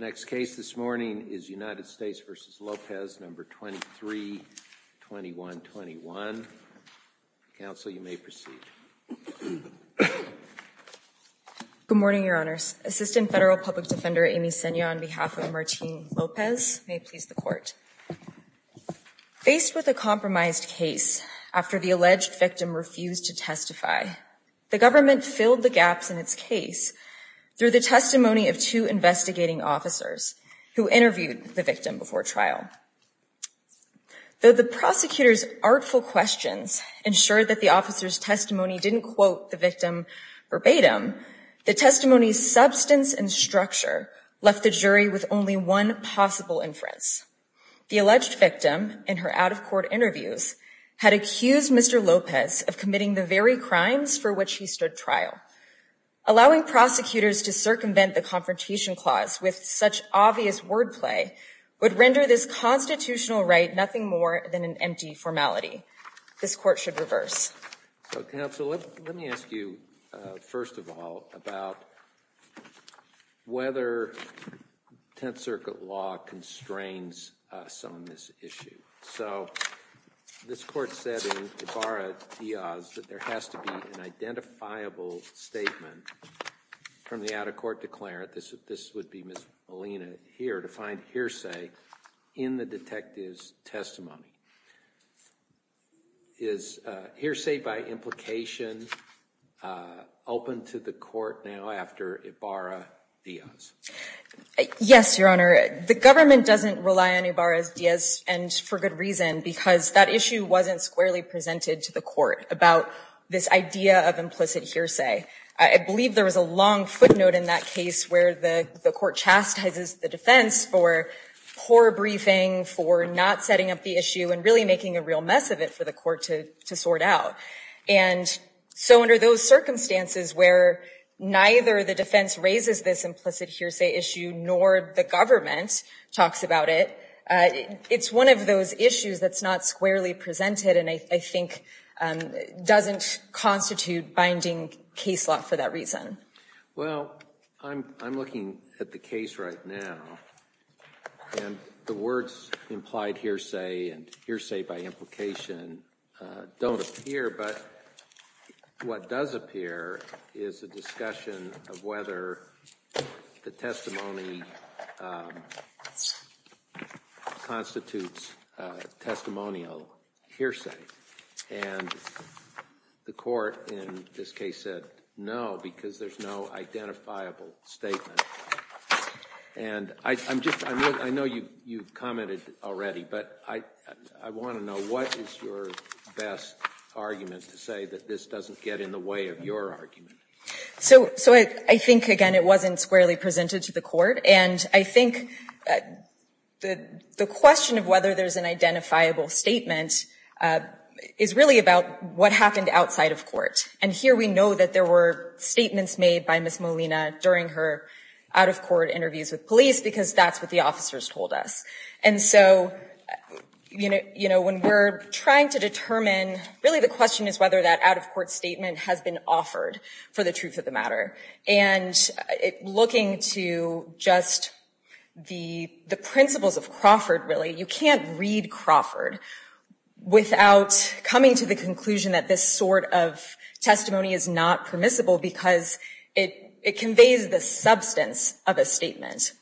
23-21-21. Council, you may proceed. Good morning, Your Honors. Assistant Federal Public Defender Amy Sena on behalf of Martín López may please the Court. Faced with a compromised case after the alleged victim refused to testify, the government filled the gaps in its case through the testimony of two investigating officers who interviewed the victim before trial. Though the prosecutor's artful questions ensured that the officer's testimony didn't quote the victim verbatim, the testimony's substance and structure left the jury with only one possible inference. The alleged victim, in her out-of-court interviews, had accused Mr. López of committing the very crimes for which he stood trial. Allowing prosecutors to circumvent the confrontation clause with such obvious wordplay would render this constitutional right nothing more than an empty formality. This Court should reverse. So, Council, let me ask you, first of all, about whether Tenth Circuit law constrains us on this issue. So, this Court said in Ibarra-Díaz that there has to be an identifiable statement from the out-of-court declarant, this would be Ms. Molina here, to find hearsay in the case. Is hearsay by implication open to the Court now after Ibarra-Díaz? Yes, Your Honor. The government doesn't rely on Ibarra-Díaz, and for good reason, because that issue wasn't squarely presented to the Court about this idea of implicit hearsay. I believe there was a long footnote in that case where the Court chastises the defense for poor briefing, for not setting up the issue, and really making a real mess of it for the Court to sort out. And so under those circumstances where neither the defense raises this implicit hearsay issue nor the government talks about it, it's one of those issues that's not squarely presented and I think doesn't constitute binding case law for that reason. Well, I'm looking at the case right now, and the words implied hearsay and hearsay by implication don't appear, but what does appear is a discussion of whether the testimony constitutes testimonial hearsay. And the Court in this case said no, because there's no identifiable statement. And I'm just, I know you commented already, but I want to know what is your best argument to say that this doesn't get in the way of your argument? So I think, again, it wasn't squarely presented to the Court. And I think the question of whether there's an identifiable statement is really about what happened outside of court. And here we know that there were statements made by Ms. Molina during her out-of-court interviews with police because that's what the officers told us. And so, you know, when we're trying to determine, really the question is whether that out-of-court statement has been offered for the truth of the matter. And looking to just the principles of Crawford, really, you can't read Crawford without coming to the conclusion that this sort of testimony is not permissible because it conveys the substance of a statement.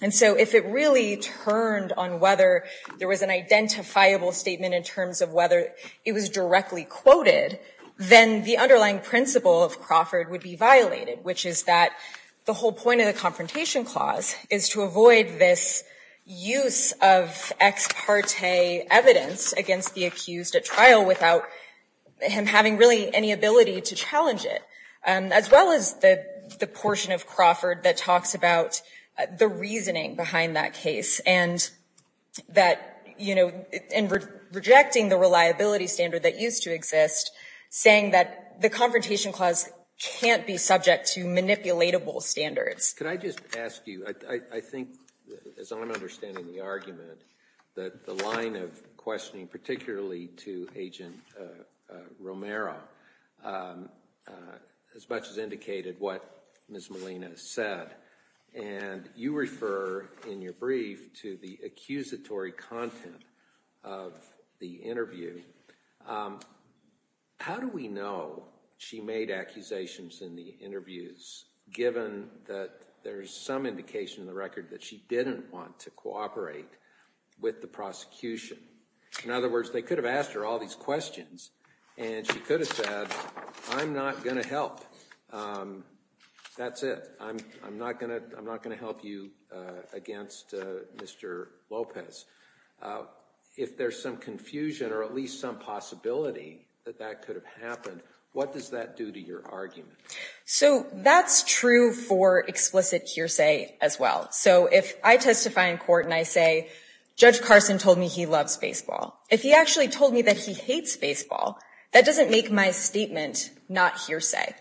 And so if it really turned on whether there was an identifiable statement in terms of whether it was directly quoted, then the underlying principle of Crawford would be violated, which is that the whole point of the Confrontation Clause is to avoid this use of ex parte evidence against the accused at trial without him having really any ability to challenge it, as well as the portion of Crawford that talks about the reasoning behind that case and that, you know, in rejecting the reliability standard that used to exist, saying that the Confrontation Clause can't be subject to manipulatable standards. Could I just ask you, I think, as I'm understanding the argument, that the line of questioning, particularly to Agent Romero, as much as indicated what Ms. Molina said, and you refer in your brief to the accusatory content of the interview, how do we know she made accusations in the interviews, given that there is some indication in the record that she didn't want to cooperate with the prosecution? In other words, they could have asked her all these questions, and she could have said, I'm not going to help. That's it. I'm not going to help you against Mr. Lopez. If there's some confusion or at least some possibility that that could have happened, what does that do to your argument? So that's true for explicit hearsay as well. So if I testify in court and I say, Judge Carson told me he loves baseball. If he actually told me that he hates baseball, that doesn't make my statement not hearsay.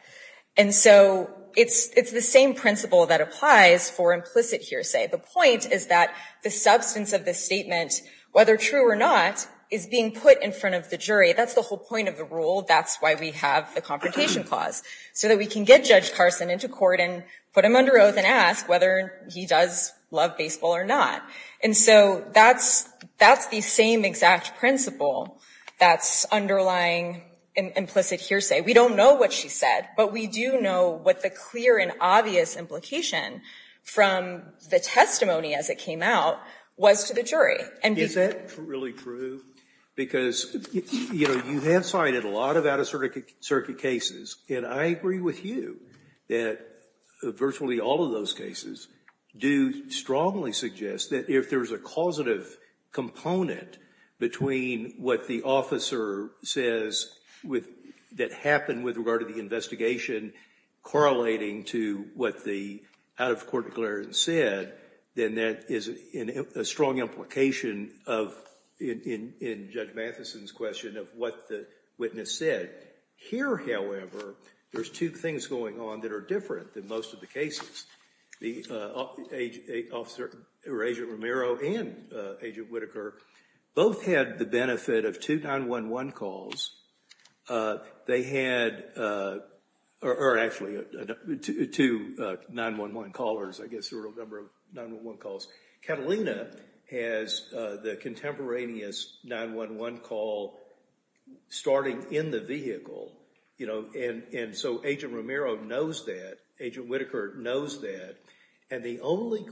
And so it's the same principle that applies for implicit hearsay. The point is that the substance of the statement, whether true or not, is being put in front of the jury. That's the whole point of the rule. That's why we have the confrontation clause, so that we can get Judge Carson into court and put him under oath and ask whether he does love baseball or not. And so that's the same exact principle that's underlying implicit hearsay. We don't know what she said, but we do know what the clear and obvious implication from the testimony as it came out was to the Is that really true? Because you have cited a lot of out-of-circuit cases, and I agree with you that virtually all of those cases do strongly suggest that if there's a causative component between what the officer says that happened with regard to the investigation correlating to what the out-of-court declarant said, then that is a strong implication of, in Judge Mathison's question, of what the witness said. Here, however, there's two things going on that are different than most of the cases. Agent Romero and Agent Whitaker both had the benefit of two 9-1-1 calls. They had, or actually, two 9-1-1 callers. I guess there were a number of 9-1-1 calls. Catalina has the contemporaneous 9-1-1 call starting in the vehicle. And so Agent Romero knows that. Agent Whitaker knows that. And the only of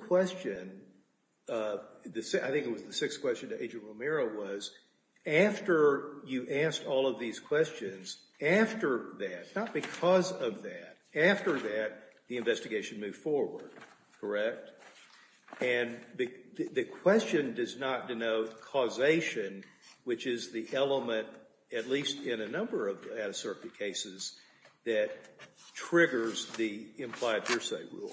these questions, after that, not because of that, after that, the investigation moved forward, correct? And the question does not denote causation, which is the element, at least in a number of out-of-circuit cases, that triggers the implied hearsay rule.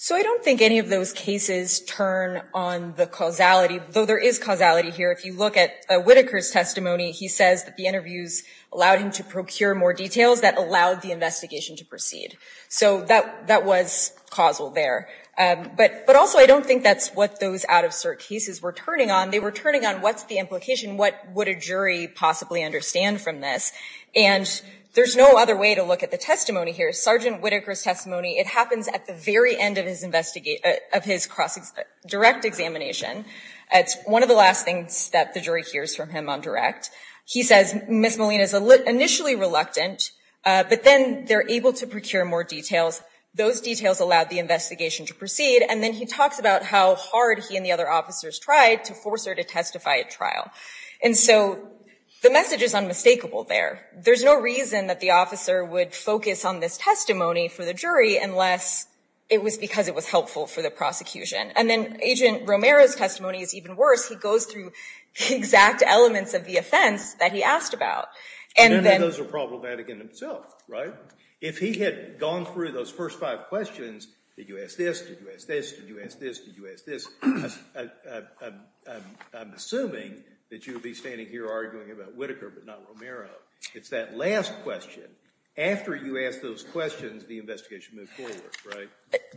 So I don't think any of those cases turn on the causality, though there is causality here. If you look at Whitaker's testimony, he says that the interviews allowed him to procure more details that allowed the investigation to proceed. So that was causal there. But also, I don't think that's what those out-of-circuit cases were turning on. They were turning on what's the implication, what would a jury possibly understand from this. And there's no other way to look at the testimony here. Sergeant Whitaker's testimony, it happens at the very end of his direct examination. It's one of the last things that the jury hears from him on direct. He says Ms. Molina is initially reluctant, but then they're able to procure more details. Those details allowed the investigation to proceed. And then he talks about how hard he and the other officers tried to force her to testify at trial. And so the message is unmistakable there. There's no reason that the officer would focus on this testimony for the jury unless it was because it was the direct elements of the offense that he asked about. And then those are problematic in themselves, right? If he had gone through those first five questions, did you ask this, did you ask this, did you ask this, did you ask this, I'm assuming that you would be standing here arguing about Whitaker but not Romero. It's that last question. After you ask those questions, the investigation moved forward, right?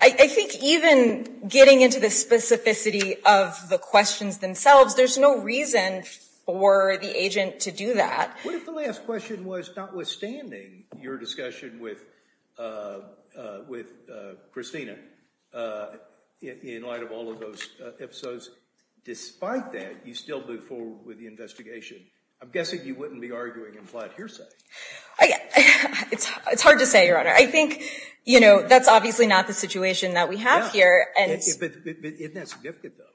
I think even getting into the specificity of the questions themselves, there's no reason for the agent to do that. What if the last question was notwithstanding your discussion with Christina in light of all of those episodes, despite that, you still move forward with the investigation? I'm guessing you wouldn't be arguing implied hearsay. It's hard to say, Your Honor. I think that's obviously not the situation that we have here. But isn't that significant, though?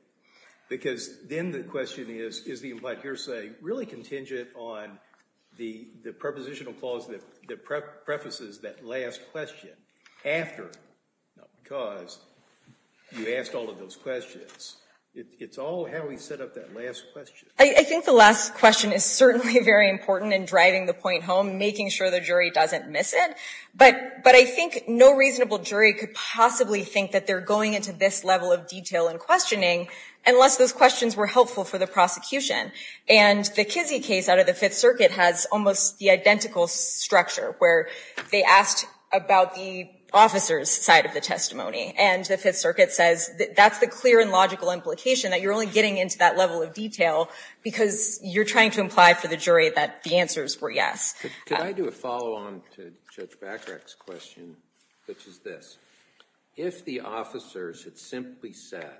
Because then the question is, is the implied hearsay really contingent on the prepositional clause that prefaces that last question after, because you asked all of those questions. It's all how we set up that last question. I think the last question is certainly very important in driving the point home, making sure the jury doesn't miss it. But I think no reasonable jury could possibly think that they're going into this level of detail and questioning unless those questions were helpful for the prosecution. And the Kizzee case out of the Fifth Circuit has almost the identical structure, where they asked about the officer's side of the testimony. And the Fifth Circuit says, that's the clear and logical implication, that you're only getting into that level of detail because you're trying to imply for the jury that the answers were yes. Could I do a follow-on to Judge Bacharach's question, which is this? If the officers had simply said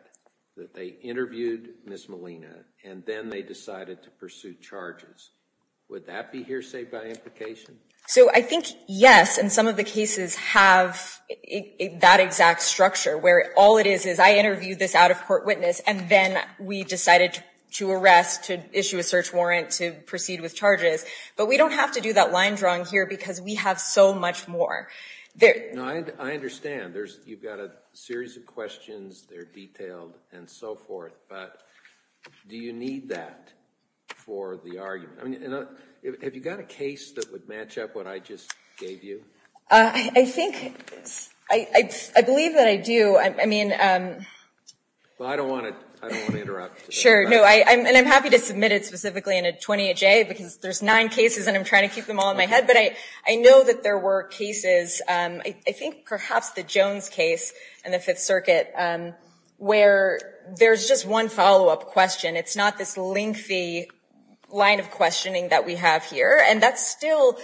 that they interviewed Ms. Molina and then they decided to pursue charges, would that be hearsay by implication? So I think, yes, and some of the cases have that exact structure, where all it is is I interviewed this out-of-court witness and then we decided to arrest, to issue a search warrant, to proceed with charges. But we don't have to do that line drawing here because we have so much more. I understand. You've got a series of questions. They're detailed and so forth. But do you need that for the argument? I mean, have you got a case that would match up what I just gave you? I think – I believe that I do. I mean – Well, I don't want to interrupt. Sure. No, and I'm happy to submit it specifically in a 28-J, because there's nine cases and I'm trying to keep them all in my head. But I know that there were cases, I think perhaps the Jones case in the Fifth Circuit, where there's just one follow-up question. It's not this lengthy line of questioning that we have here. And that's still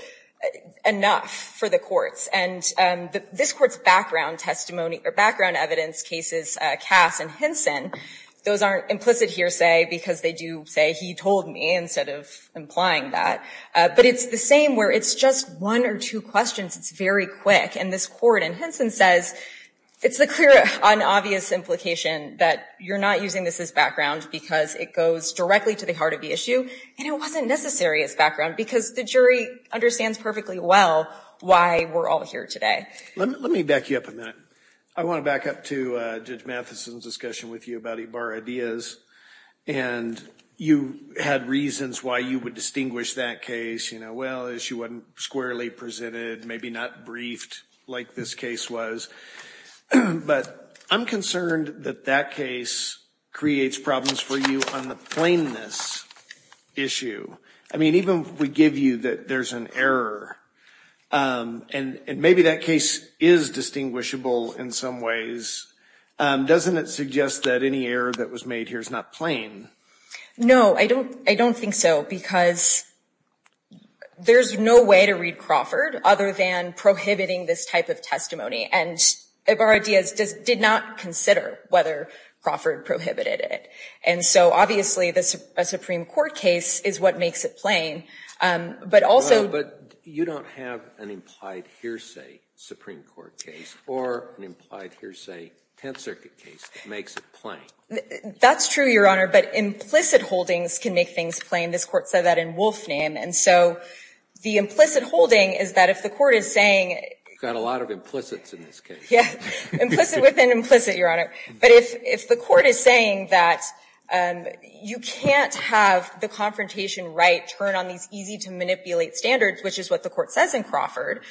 enough for the courts. And this Court's background testimony – or background evidence cases, Cass and Hinson, those aren't implicit hearsay because they do say, he told me, instead of implying that. But it's the same where it's just one or two questions. It's very quick. And this Hinson says it's the clear and obvious implication that you're not using this as background because it goes directly to the heart of the issue. And it wasn't necessary as background because the jury understands perfectly well why we're all here today. Let me back you up a minute. I want to back up to Judge Mathison's discussion with you about Ibarra-Diaz. And you had reasons why you would distinguish that case. You know, well, the issue wasn't squarely presented, maybe not briefed like this case was. But I'm concerned that that case creates problems for you on the plainness issue. I mean, even if we give you that there's an error, and maybe that case is distinguishable in some ways, doesn't it suggest that any error that was made here is not plain? No, I don't think so. Because there's no way to read Crawford other than prohibiting this type of testimony. And Ibarra-Diaz did not consider whether Crawford prohibited it. And so, obviously, a Supreme Court case is what makes it plain. But also — Well, but you don't have an implied hearsay Supreme Court case or an implied hearsay Tenth Circuit case that makes it plain. That's true, Your Honor. But implicit holdings can make things plain. This Court said that in Wolf's name. And so the implicit holding is that if the Court is saying — You've got a lot of implicits in this case. Yeah. Implicit within implicit, Your Honor. But if the Court is saying that you can't have the confrontation right turn on these easy-to-manipulate standards, which is what the Court says in Crawford,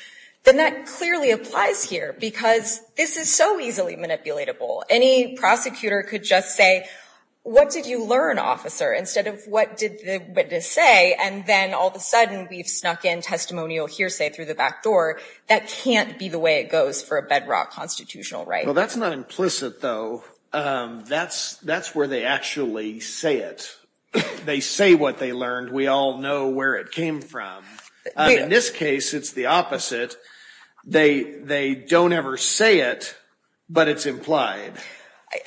then that clearly applies here. Because this is so easily manipulatable. Any prosecutor could just say, what did you learn, officer, instead of what did the witness say, and then all of a sudden we've snuck in testimonial hearsay through the back door. That can't be the way it goes for a bedrock constitutional right. Well, that's not implicit, though. That's where they actually say it. They say what they learned. We all know where it came from. In this case, it's the opposite. They don't ever say it, but it's implied.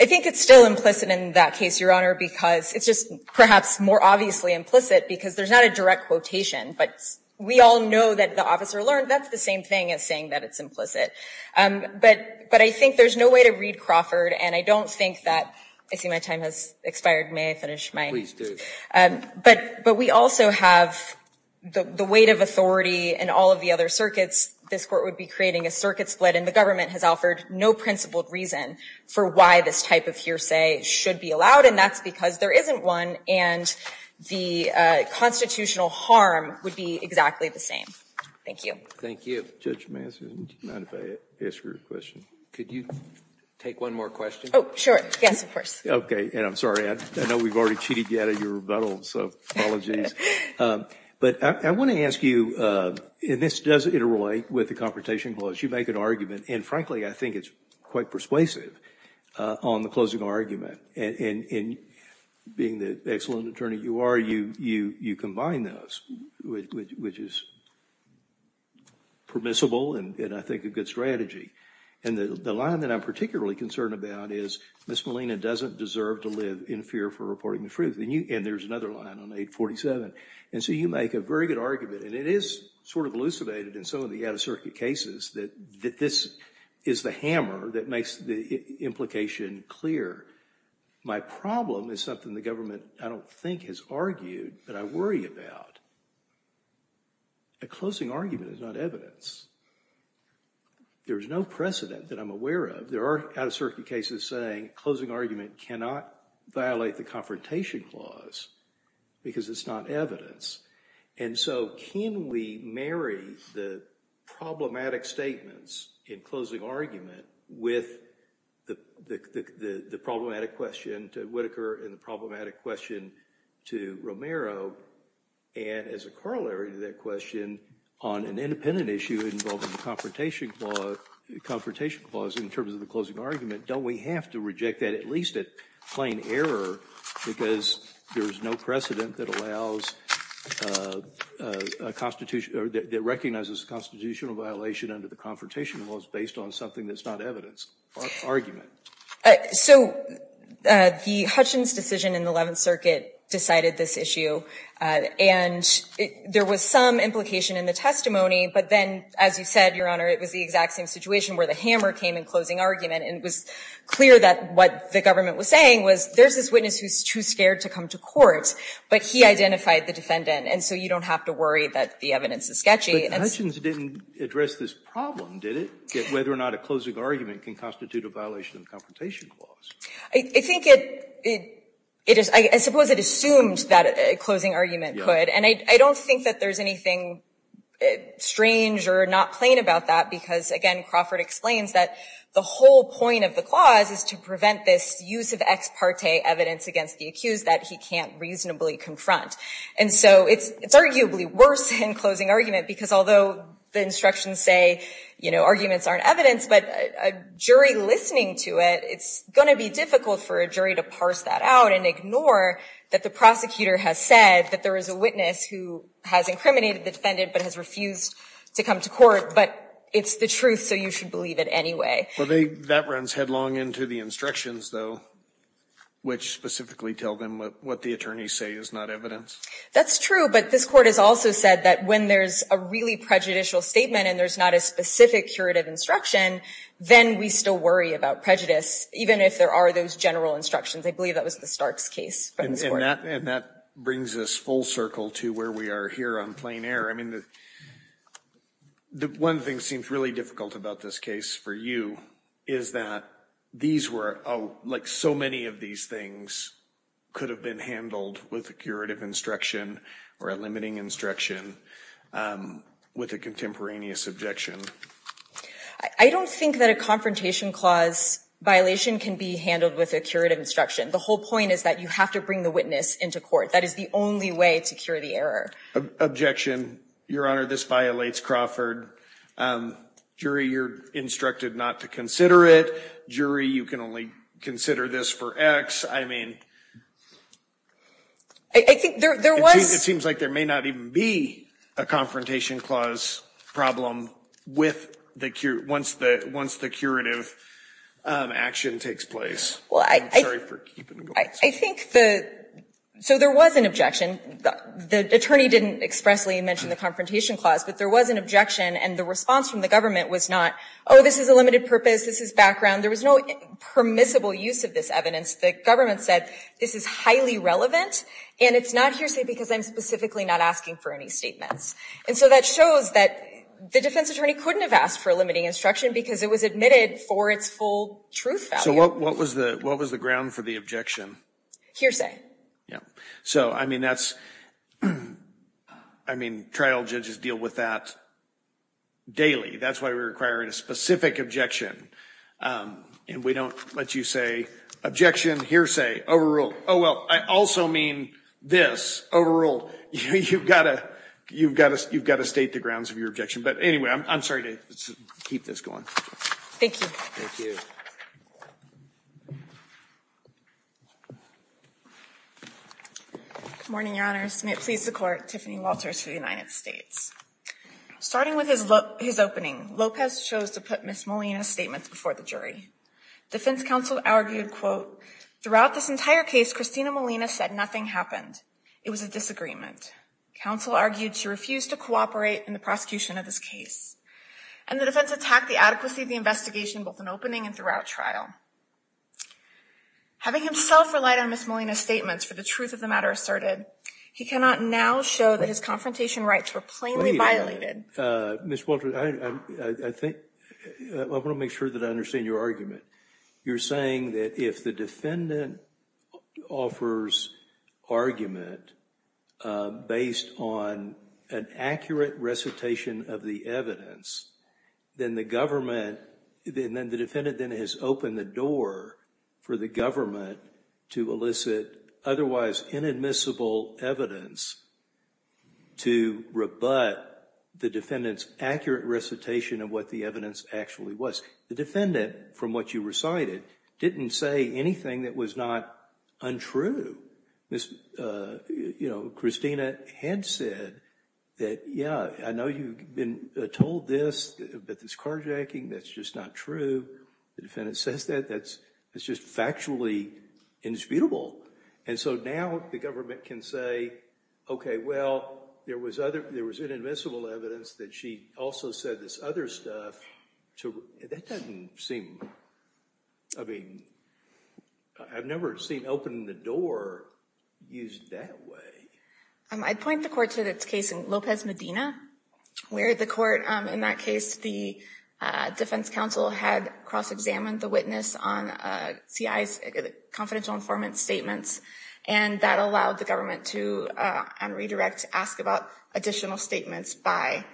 I think it's still implicit in that case, Your Honor, because it's just perhaps more obviously implicit, because there's not a direct quotation. But we all know that the officer learned. That's the same thing as saying that it's implicit. But I think there's no way to read Crawford, and I don't think that — I see my time has expired. May I finish my — Please do. But we also have the weight of authority in all of the other circuits. This Court would be creating a circuit split, and the government has offered no principled reason for why this type of hearsay should be allowed, and that's because there isn't one, and the constitutional harm would be exactly the same. Thank you. Thank you. Judge Manson, do you mind if I ask you a question? Could you take one more question? Oh, sure. Yes, of course. Okay. And I'm sorry. I know we've already cheated you out of your rebuttal, so apologies. But I want to ask you — and this does interrelate with the Confrontation Clause. You make an argument, and frankly, I think it's quite persuasive on the closing argument. And being the excellent attorney you are, you combine those, which is permissible and I think a good strategy. And the line that I'm particularly concerned about is Ms. Molina doesn't deserve to live in fear for her life. And so you make a very good argument, and it is sort of elucidated in some of the out-of-circuit cases that this is the hammer that makes the implication clear. My problem is something the government, I don't think, has argued that I worry about. A closing argument is not evidence. There is no precedent that I'm aware of. There are out-of-circuit cases saying a closing argument is not evidence. And so can we marry the problematic statements in closing argument with the problematic question to Whitaker and the problematic question to Romero? And as a corollary to that question, on an independent issue involving the Confrontation Clause in terms of the closing argument, don't we have to reject that, at least at plain error, because there is no precedent that allows a constitution or that recognizes a constitutional violation under the Confrontation Clause based on something that's not evidence or argument? So the Hutchins decision in the Eleventh Circuit decided this issue, and there was some implication in the testimony, but then, as you said, Your Honor, it was the clear that what the government was saying was there's this witness who's too scared to come to court, but he identified the defendant, and so you don't have to worry that the evidence is sketchy. But Hutchins didn't address this problem, did it, whether or not a closing argument can constitute a violation of the Confrontation Clause? I think it is. I suppose it assumed that a closing argument could. And I don't think that there's anything strange or not plain about that, because, again, Crawford explains that the whole point of the clause is to prevent this use of ex parte evidence against the accused that he can't reasonably confront. And so it's arguably worse in closing argument, because although the instructions say, you know, arguments aren't evidence, but a jury listening to it, it's going to be difficult for a jury to parse that out and ignore that the prosecutor has said that there is a witness who has incriminated the defendant but has refused to come to court, but it's the truth, so you should believe it anyway. Well, that runs headlong into the instructions, though, which specifically tell them what the attorneys say is not evidence. That's true, but this Court has also said that when there's a really prejudicial statement and there's not a specific curative instruction, then we still worry about prejudice, even if there are those general instructions. I believe that was the Starks case from this Court. And that brings us full circle to where we are here on plain air. I mean, one thing seems really difficult about this case for you is that these were, like so many of these things, could have been handled with a curative instruction or a limiting instruction with a contemporaneous objection. I don't think that a confrontation clause violation can be handled with a witness into court. That is the only way to cure the error. Objection. Your Honor, this violates Crawford. Jury, you're instructed not to consider it. Jury, you can only consider this for X. I mean, it seems like there may not even be a confrontation clause problem once the curative action takes place. Well, I think the, so there was an objection. The attorney didn't expressly mention the confrontation clause, but there was an objection and the response from the government was not, oh, this is a limited purpose, this is background. There was no permissible use of this evidence. The government said this is highly relevant and it's not hearsay because I'm specifically not asking for any statements. And so that shows that the defense attorney couldn't have asked for a limiting instruction because it was admitted for its full truth value. So what was the, what was the ground for the objection? Hearsay. Yeah. So, I mean, that's, I mean, trial judges deal with that daily. That's why we're requiring a specific objection. And we don't let you say, objection, hearsay, overruled. Oh, well, I also mean this, overruled. You've got to, you've got to, you've got to state the grounds of your objection. But anyway, I'm sorry to keep this going. Thank you. Thank you. Good morning, Your Honors. May it please the Court, Tiffany Walters for the United States. Starting with his opening, Lopez chose to put Ms. Molina's statements before the jury. Defense counsel argued, quote, throughout this entire case, Christina Molina said nothing happened. It was a disagreement. Counsel argued she refused to cooperate in the prosecution of this case. And the defense attacked the adequacy of the investigation both in opening and throughout trial. Having himself relied on Ms. Molina's statements for the truth of the matter asserted, he cannot now show that his confrontation rights were plainly Ms. Walters, I think, I want to make sure that I understand your argument. You're saying that if the defendant offers argument based on an accurate recitation of the evidence, then the government, then the defendant then has opened the door for the government to elicit otherwise inadmissible evidence to rebut the defendant's accurate recitation of what the evidence actually was. The defendant, from what you recited, didn't say anything that was not untrue. Christina had said that, yeah, I know you've been told this, that this carjacking, that's just not true. The defendant says that, that's just factually indisputable. And so now the government can say, okay, well, there was inadmissible evidence that she also said this other stuff. That doesn't seem, I mean, I've never seen opening the door used that way. I'd point the court to this case in Lopez Medina, where the court, in that case, the defense counsel had cross-examined the witness on C.I.'s confidential informant statements, and that allowed the government to, on redirect, to ask about additional statements by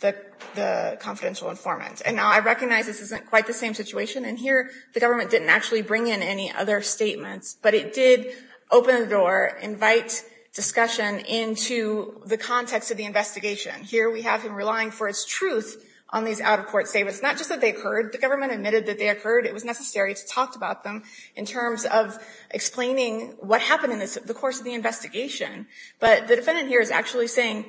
the confidential informant. And now I recognize this isn't quite the same situation, and here the government didn't actually bring in any other statements, but it did open the door, invite discussion into the context of the investigation. Here we have him relying for his truth on these out-of-court statements. Not just that they occurred, the government admitted that they occurred. It was necessary to talk about them in terms of explaining what happened in the course of the investigation. But the defendant here is actually saying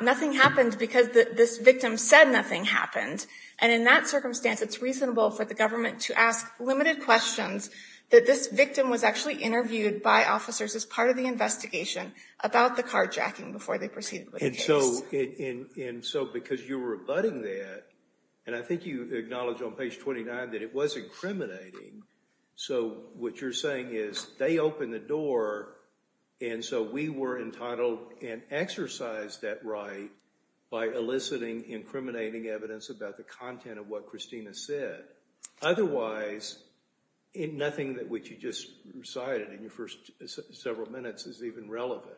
nothing happened because this victim said nothing happened. And in that circumstance, it's reasonable for the government to ask limited questions that this victim was actually interviewed by officers as part of the investigation about the carjacking before they proceeded with the case. And so because you're rebutting that, and I think you acknowledge on page 29 that it was incriminating, so what you're saying is they opened the door and so we were entitled and exercised that right by eliciting incriminating evidence about the content of what Christina said. Otherwise, nothing which you just recited in your first several minutes is even relevant.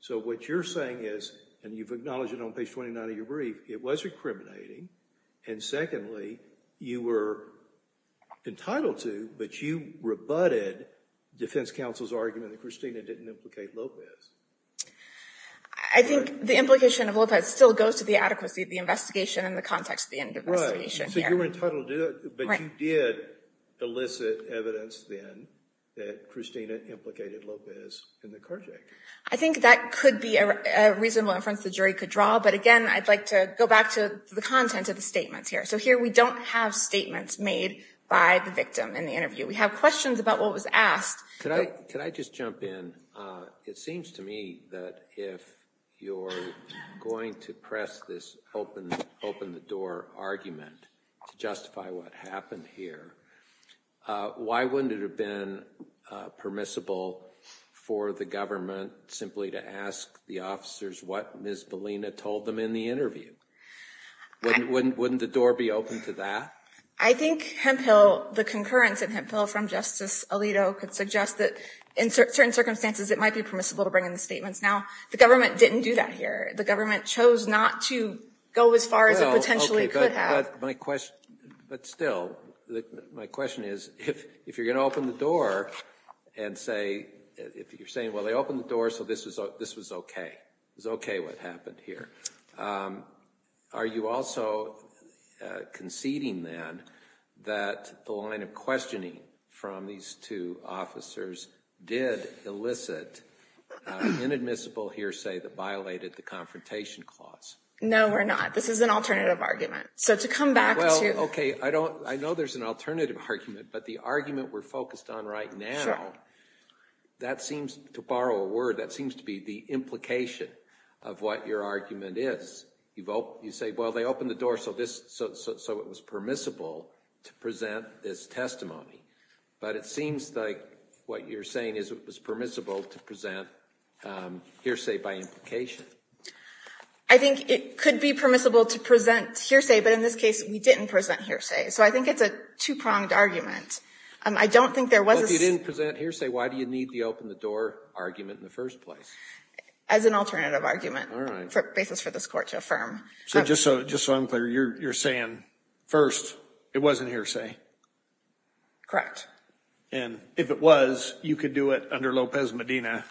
So what you're saying is, and you've acknowledged it on page 29 of your brief, it was incriminating, and secondly, you were entitled to, but you rebutted defense counsel's argument that Christina didn't implicate Lopez. I think the implication of Lopez still goes to the adequacy of the investigation and the context of the investigation. Right. So you were entitled to it, but you did elicit evidence then that Christina implicated Lopez in the carjacking. I think that could be a reasonable inference the jury could draw, but again, I'd like to go back to the content of the statements here. So here we don't have statements made by the victim in the interview. We have questions about what was asked. Could I just jump in? It seems to me that if you're going to press this open-the-door argument to justify what happened here, why wouldn't it have been permissible for the government simply to ask the officers what Ms. Bellina told them in the interview? Wouldn't the door be open to that? I think Hemphill, the concurrence in Hemphill from Justice Alito, could suggest that in certain circumstances it might be permissible to bring in the statements. Now, the government didn't do that here. The government chose not to go as far as it potentially could have. But still, my question is, if you're going to open the door and say, if you're saying, well, they opened the door so this was okay, it was okay what happened here, are you also conceding then that the line of questioning from these two officers did elicit inadmissible hearsay that violated the Confrontation Clause? No, we're not. This is an alternative argument. So to come back to... Well, okay, I know there's an alternative argument, but the argument we're focused on right now, that seems, to borrow a word, that seems to be the implication of what your argument is. You say, well, they opened the door so it was permissible to present this testimony. But it seems like what you're saying is it was permissible to present hearsay by implication. I think it could be permissible to present hearsay, but in this case we didn't present hearsay. So I think it's a two-pronged argument. I don't think there was a... As an alternative argument for basis for this court to affirm. So just so I'm clear, you're saying, first, it wasn't hearsay? And if it was, you could do it under Lopez-Medina?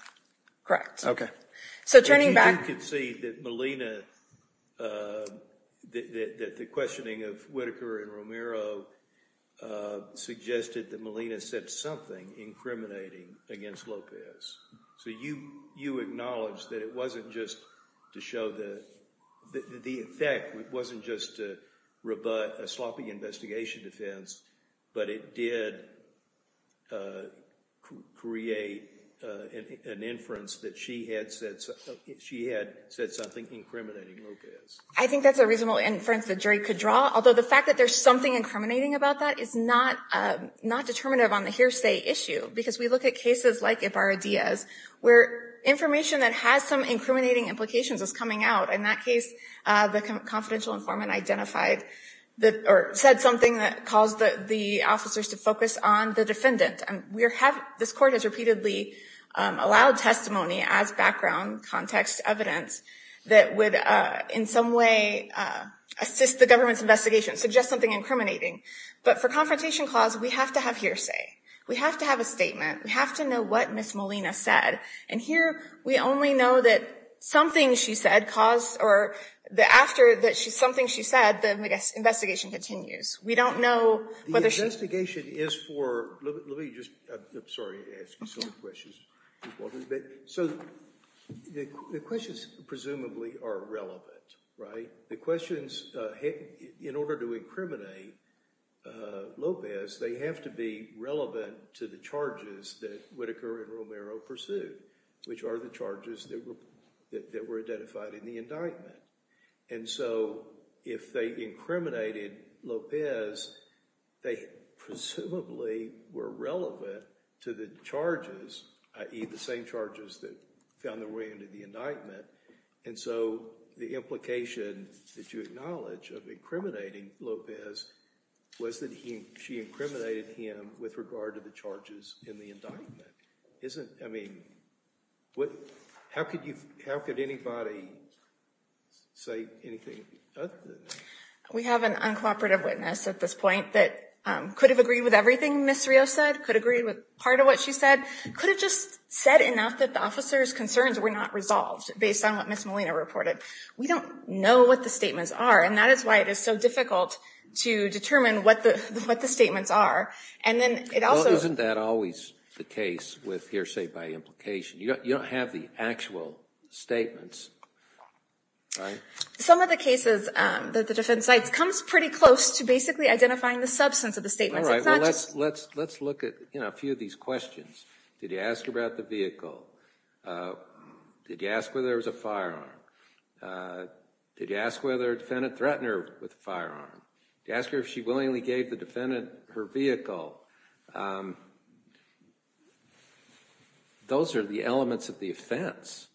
So turning back... But you do concede that Melina, that the questioning of Whitaker and Romero suggested that Melina said something incriminating against Lopez. So you acknowledge that it wasn't just to show that... The effect wasn't just to rebut a sloppy investigation defense, but it did create an inference that she had said something incriminating Lopez. I think that's a reasonable inference the jury could draw, although the fact that there's something incriminating about that is not determinative on the where information that has some incriminating implications is coming out. In that case, the confidential informant identified or said something that caused the officers to focus on the defendant. This court has repeatedly allowed testimony as background context evidence that would in some way assist the government's investigation, suggest something incriminating. But for confrontation clause, we have to have hearsay. We have to have a statement. We have to know what Ms. Melina said. And here, we only know that something she said caused... Or after something she said, the investigation continues. We don't know whether she... The investigation is for... Let me just... I'm sorry to ask you so many questions. So the questions presumably are relevant, right? The questions, in order to incriminate Lopez, they have to be relevant to the charges that would occur in Romero pursuit, which are the charges that were identified in the indictment. And so if they incriminated Lopez, they presumably were relevant to the charges, i.e. the same charges that found their way into the indictment. And so the implication that you acknowledge of incriminating Lopez was that she incriminated him with regard to the charges in the indictment. Isn't... I mean, how could anybody say anything other than that? We have an uncooperative witness at this point that could have agreed with everything Ms. Rios said, could agree with part of what she said, could have just said enough that the officer's concerns were not resolved based on what Ms. Molina reported. We don't know what the statements are, and that is why it is so difficult to determine what the statements are. And then it also... Well, isn't that always the case with hearsay by implication? You don't have the actual statements, right? Some of the cases that the defense cites comes pretty close to basically identifying the substance of the statements. It's not just... Let's look at a few of these questions. Did you ask about the vehicle? Did you ask whether there was a firearm? Did you ask whether a defendant threatened her with a firearm? Did you ask her if she willingly gave the defendant her vehicle? Those are the elements of the offense.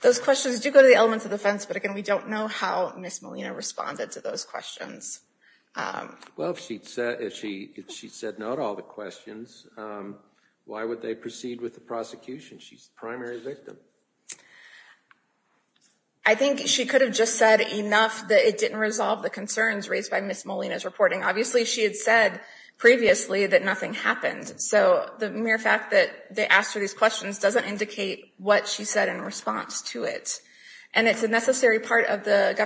Those questions do go to the elements of the offense, but again, we don't know how Ms. Molina responded to those questions. Well, if she'd said no to all the questions, why would they proceed with the prosecution? She's the primary victim. I think she could have just said enough that it didn't resolve the concerns raised by Ms. Molina's reporting. Obviously, she had said previously that nothing happened, so the mere fact that they asked her these questions doesn't indicate what she said in response to it. And it's a necessary part of the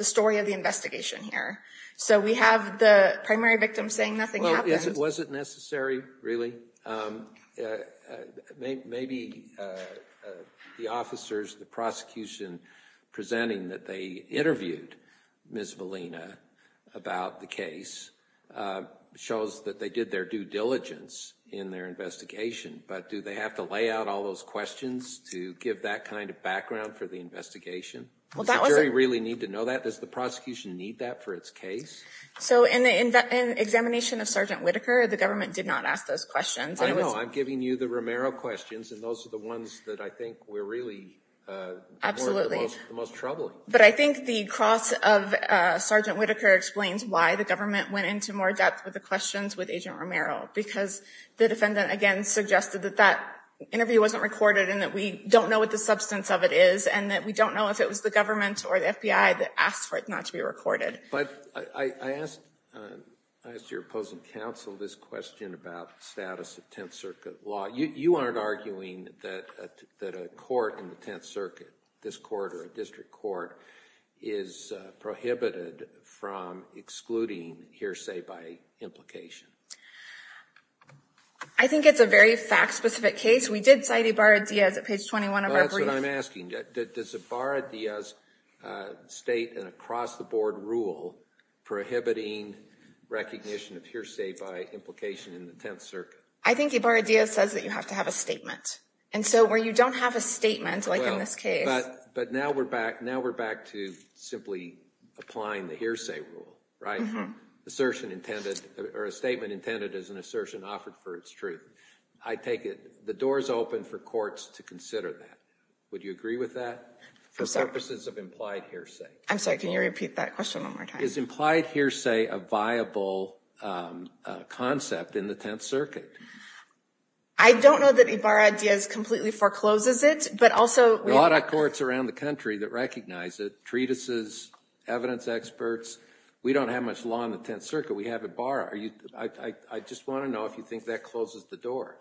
story of the investigation here. So we have the primary victim saying nothing happened. Was it necessary, really? Maybe the officers, the prosecution presenting that they interviewed Ms. Molina about the case shows that they did their due diligence in their investigation, but do they have to lay out all those questions to give that kind of background for the investigation? Does the jury really need to know that? Does the prosecution need that for its case? So in the examination of Sgt. Whitaker, the government did not ask those questions. I know. I'm giving you the Romero questions, and those are the ones that I think were really the most troubling. But I think the cross of Sgt. Whitaker explains why the government went into more depth with the questions with Agent Romero, because the defendant, again, suggested that that interview wasn't recorded and that we don't know what the government or the FBI asked for it not to be recorded. But I asked your opposing counsel this question about status of Tenth Circuit law. You aren't arguing that a court in the Tenth Circuit, this court or a district court, is prohibited from excluding hearsay by implication. I think it's a very fact-specific case. We did cite Ibarra-Diaz at page 21 of our brief. That's what I'm asking. Does Ibarra-Diaz state an across-the-board rule prohibiting recognition of hearsay by implication in the Tenth Circuit? I think Ibarra-Diaz says that you have to have a statement. And so where you don't have a statement, like in this case... But now we're back to simply applying the hearsay rule, right? Assertion intended, or a statement intended as an assertion offered for its truth. I take it the door is open for courts to consider that. Would you agree with that? For purposes of implied hearsay. I'm sorry, can you repeat that question one more time? Is implied hearsay a viable concept in the Tenth Circuit? I don't know that Ibarra-Diaz completely forecloses it, but also... There are a lot of courts around the country that recognize it. Treatises, evidence experts. We don't have much law in the Tenth Circuit. We have Ibarra. I just want to know if you think that closes the door.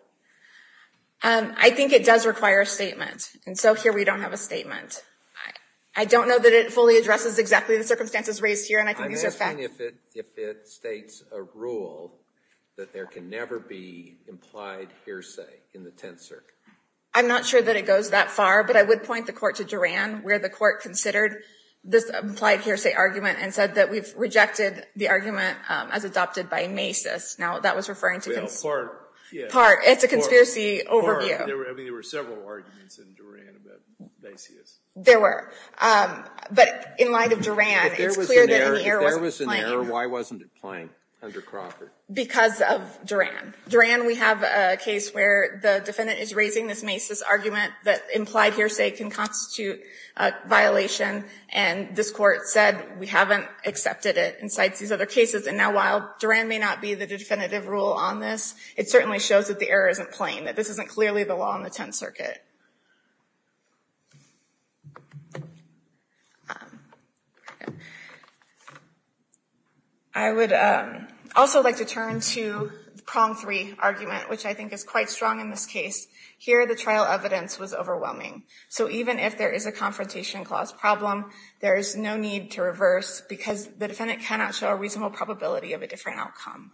I think it does require a statement. And so here we don't have a statement. I don't know that it fully addresses exactly the circumstances raised here, and I think these are facts. I'm asking if it states a rule that there can never be implied hearsay in the Tenth Circuit. I'm not sure that it goes that far, but I would point the court to Duran, where the court considered this implied hearsay argument and said that we've Now, that was referring to part. It's a conspiracy overview. There were several arguments in Duran about Macy's. There were. But in light of Duran, it's clear that the error wasn't planned. If there was an error, why wasn't it planned under Crocker? Because of Duran. Duran, we have a case where the defendant is raising this Macy's argument that implied hearsay can constitute a violation, and this Court said we haven't accepted it and cites these other cases. And now while Duran may not be the definitive rule on this, it certainly shows that the error isn't plain, that this isn't clearly the law in the Tenth Circuit. I would also like to turn to the prong three argument, which I think is quite strong in this case. Here the trial evidence was overwhelming. So even if there is a confrontation clause problem, there is no need to reverse because the defendant cannot show a reasonable probability of a different outcome.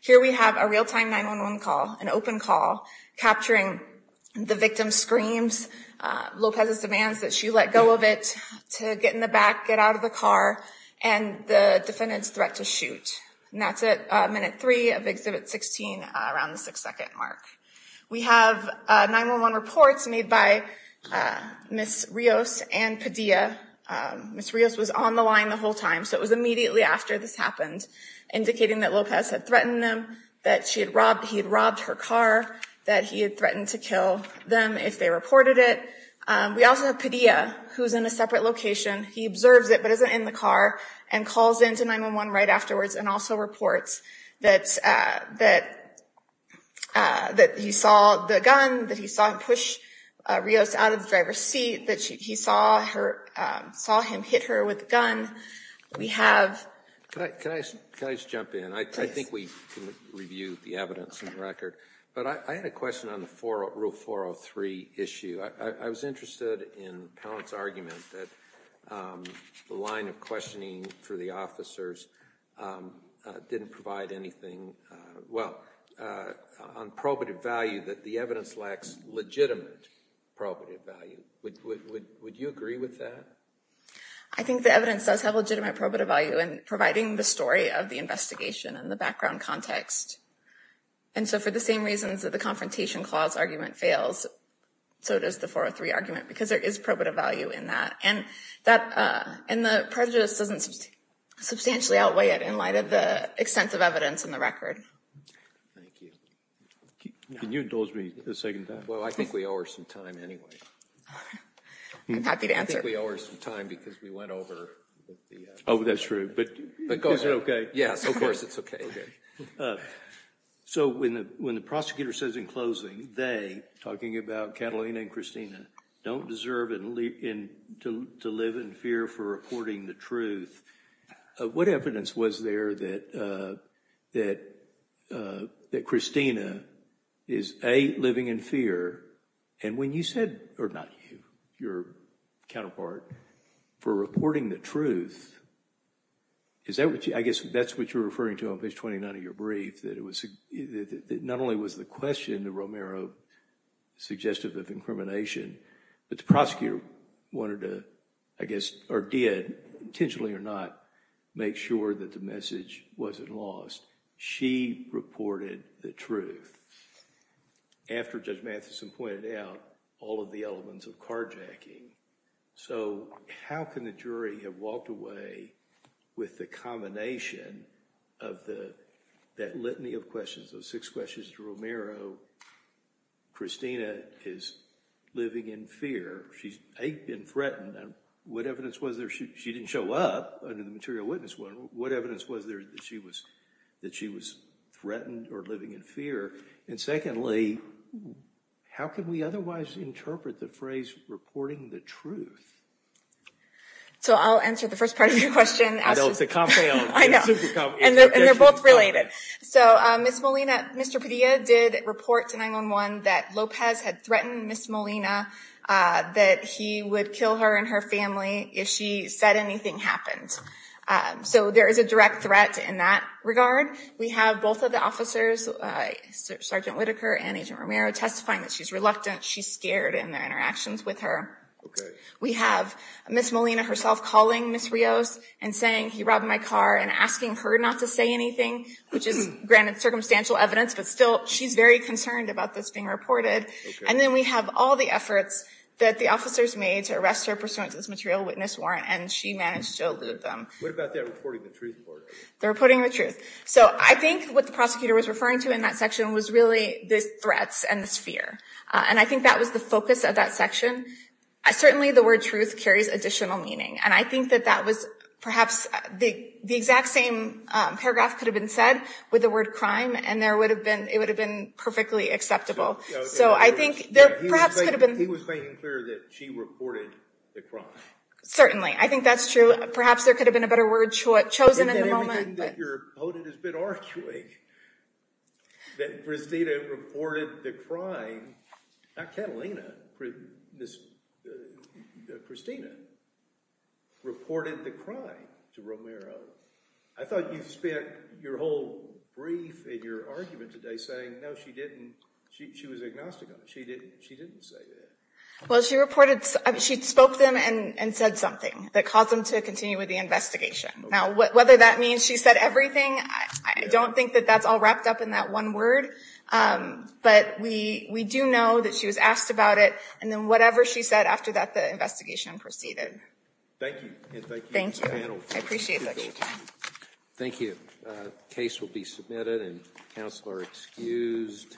Here we have a real-time 911 call, an open call, capturing the victim's screams, Lopez's demands that she let go of it, to get in the back, get out of the car, and the defendant's threat to shoot. And that's at minute three of Exhibit 16, around the six-second mark. We have 911 reports made by Ms. Rios and Padilla. Ms. Rios was on the line the whole time, so it was immediately after this happened, indicating that Lopez had threatened them, that he had robbed her car, that he had threatened to kill them if they reported it. We also have Padilla, who is in a separate location. He observes it but isn't in the car and calls in to 911 right afterwards and also reports that he saw the gun, that he saw him push Rios out of the driver's seat, that he saw him hit her with the gun. Can I just jump in? I think we can review the evidence and record. But I had a question on the Rule 403 issue. I was interested in Pallant's argument that the line of questioning for the officers didn't provide anything on probative value, that the evidence lacks legitimate probative value. Would you agree with that? I think the evidence does have legitimate probative value in providing the story of the investigation and the background context. And so for the same reasons that the Confrontation Clause argument fails, so does the 403 argument, because there is probative value in that. And the prejudice doesn't substantially outweigh it in light of the extensive evidence in the record. Thank you. Can you indulge me a second time? Well, I think we owe her some time anyway. I'm happy to answer. I think we owe her some time because we went over the… Oh, that's true. But go ahead. Is it okay? Yes, of course, it's okay. So when the prosecutor says in closing, they, talking about Catalina and Christina, don't deserve to live in fear for reporting the truth, what evidence was there that Christina is, A, living in fear, and when you said, or not you, your counterpart, for reporting the truth, I guess that's what you're referring to on page 29 of your brief, that not only was the question that Romero suggested of incrimination, but the prosecutor wanted to, I guess, or did, intentionally or not, make sure that the message wasn't lost. She reported the truth after Judge Matheson pointed out all of the elements of carjacking. So how can the jury have walked away with the combination of that litany of questions, those six questions to Romero, Christina is living in fear, she's, A, been threatened, and what evidence was there? She didn't show up under the material witness window. What evidence was there that she was threatened or living in fear? And secondly, how can we otherwise interpret the phrase, reporting the truth? So I'll answer the first part of your question. I know, it's a compound. I know. And they're both related. So Ms. Molina, Mr. Padilla did report to 911 that Lopez had threatened Ms. Molina that he would kill her and her family if she said anything happened. So there is a direct threat in that regard. We have both of the officers, Sergeant Whitaker and Agent Romero, testifying that she's reluctant, she's scared in their interactions with her. We have Ms. Molina herself calling Ms. Rios and saying he robbed my car and asking her not to say anything, which is, granted, circumstantial evidence, but still she's very concerned about this being reported. And then we have all the efforts that the officers made to arrest her pursuant to this material witness warrant, and she managed to elude them. What about that reporting the truth part? The reporting the truth. So I think what the prosecutor was referring to in that section was really the threats and the fear, and I think that was the focus of that section. Certainly the word truth carries additional meaning, and I think that that was perhaps the exact same paragraph could have been said with the word crime, and it would have been perfectly acceptable. So I think there perhaps could have been. He was making clear that she reported the crime. Certainly. I think that's true. Perhaps there could have been a better word chosen in the moment. Everything that you're quoted has been arguing that Christina reported the crime, not Catalina, Christina reported the crime to Romero. I thought you spent your whole brief in your argument today saying, no, she didn't. She was agnostic on it. She didn't say that. Well, she spoke to them and said something that caused them to continue with the investigation. Now, whether that means she said everything, I don't think that that's all wrapped up in that one word, but we do know that she was asked about it, and then whatever she said after that, the investigation proceeded. Thank you, and thank you to the panel. Thank you. I appreciate your time. Thank you. The case will be submitted, and counsel are excused.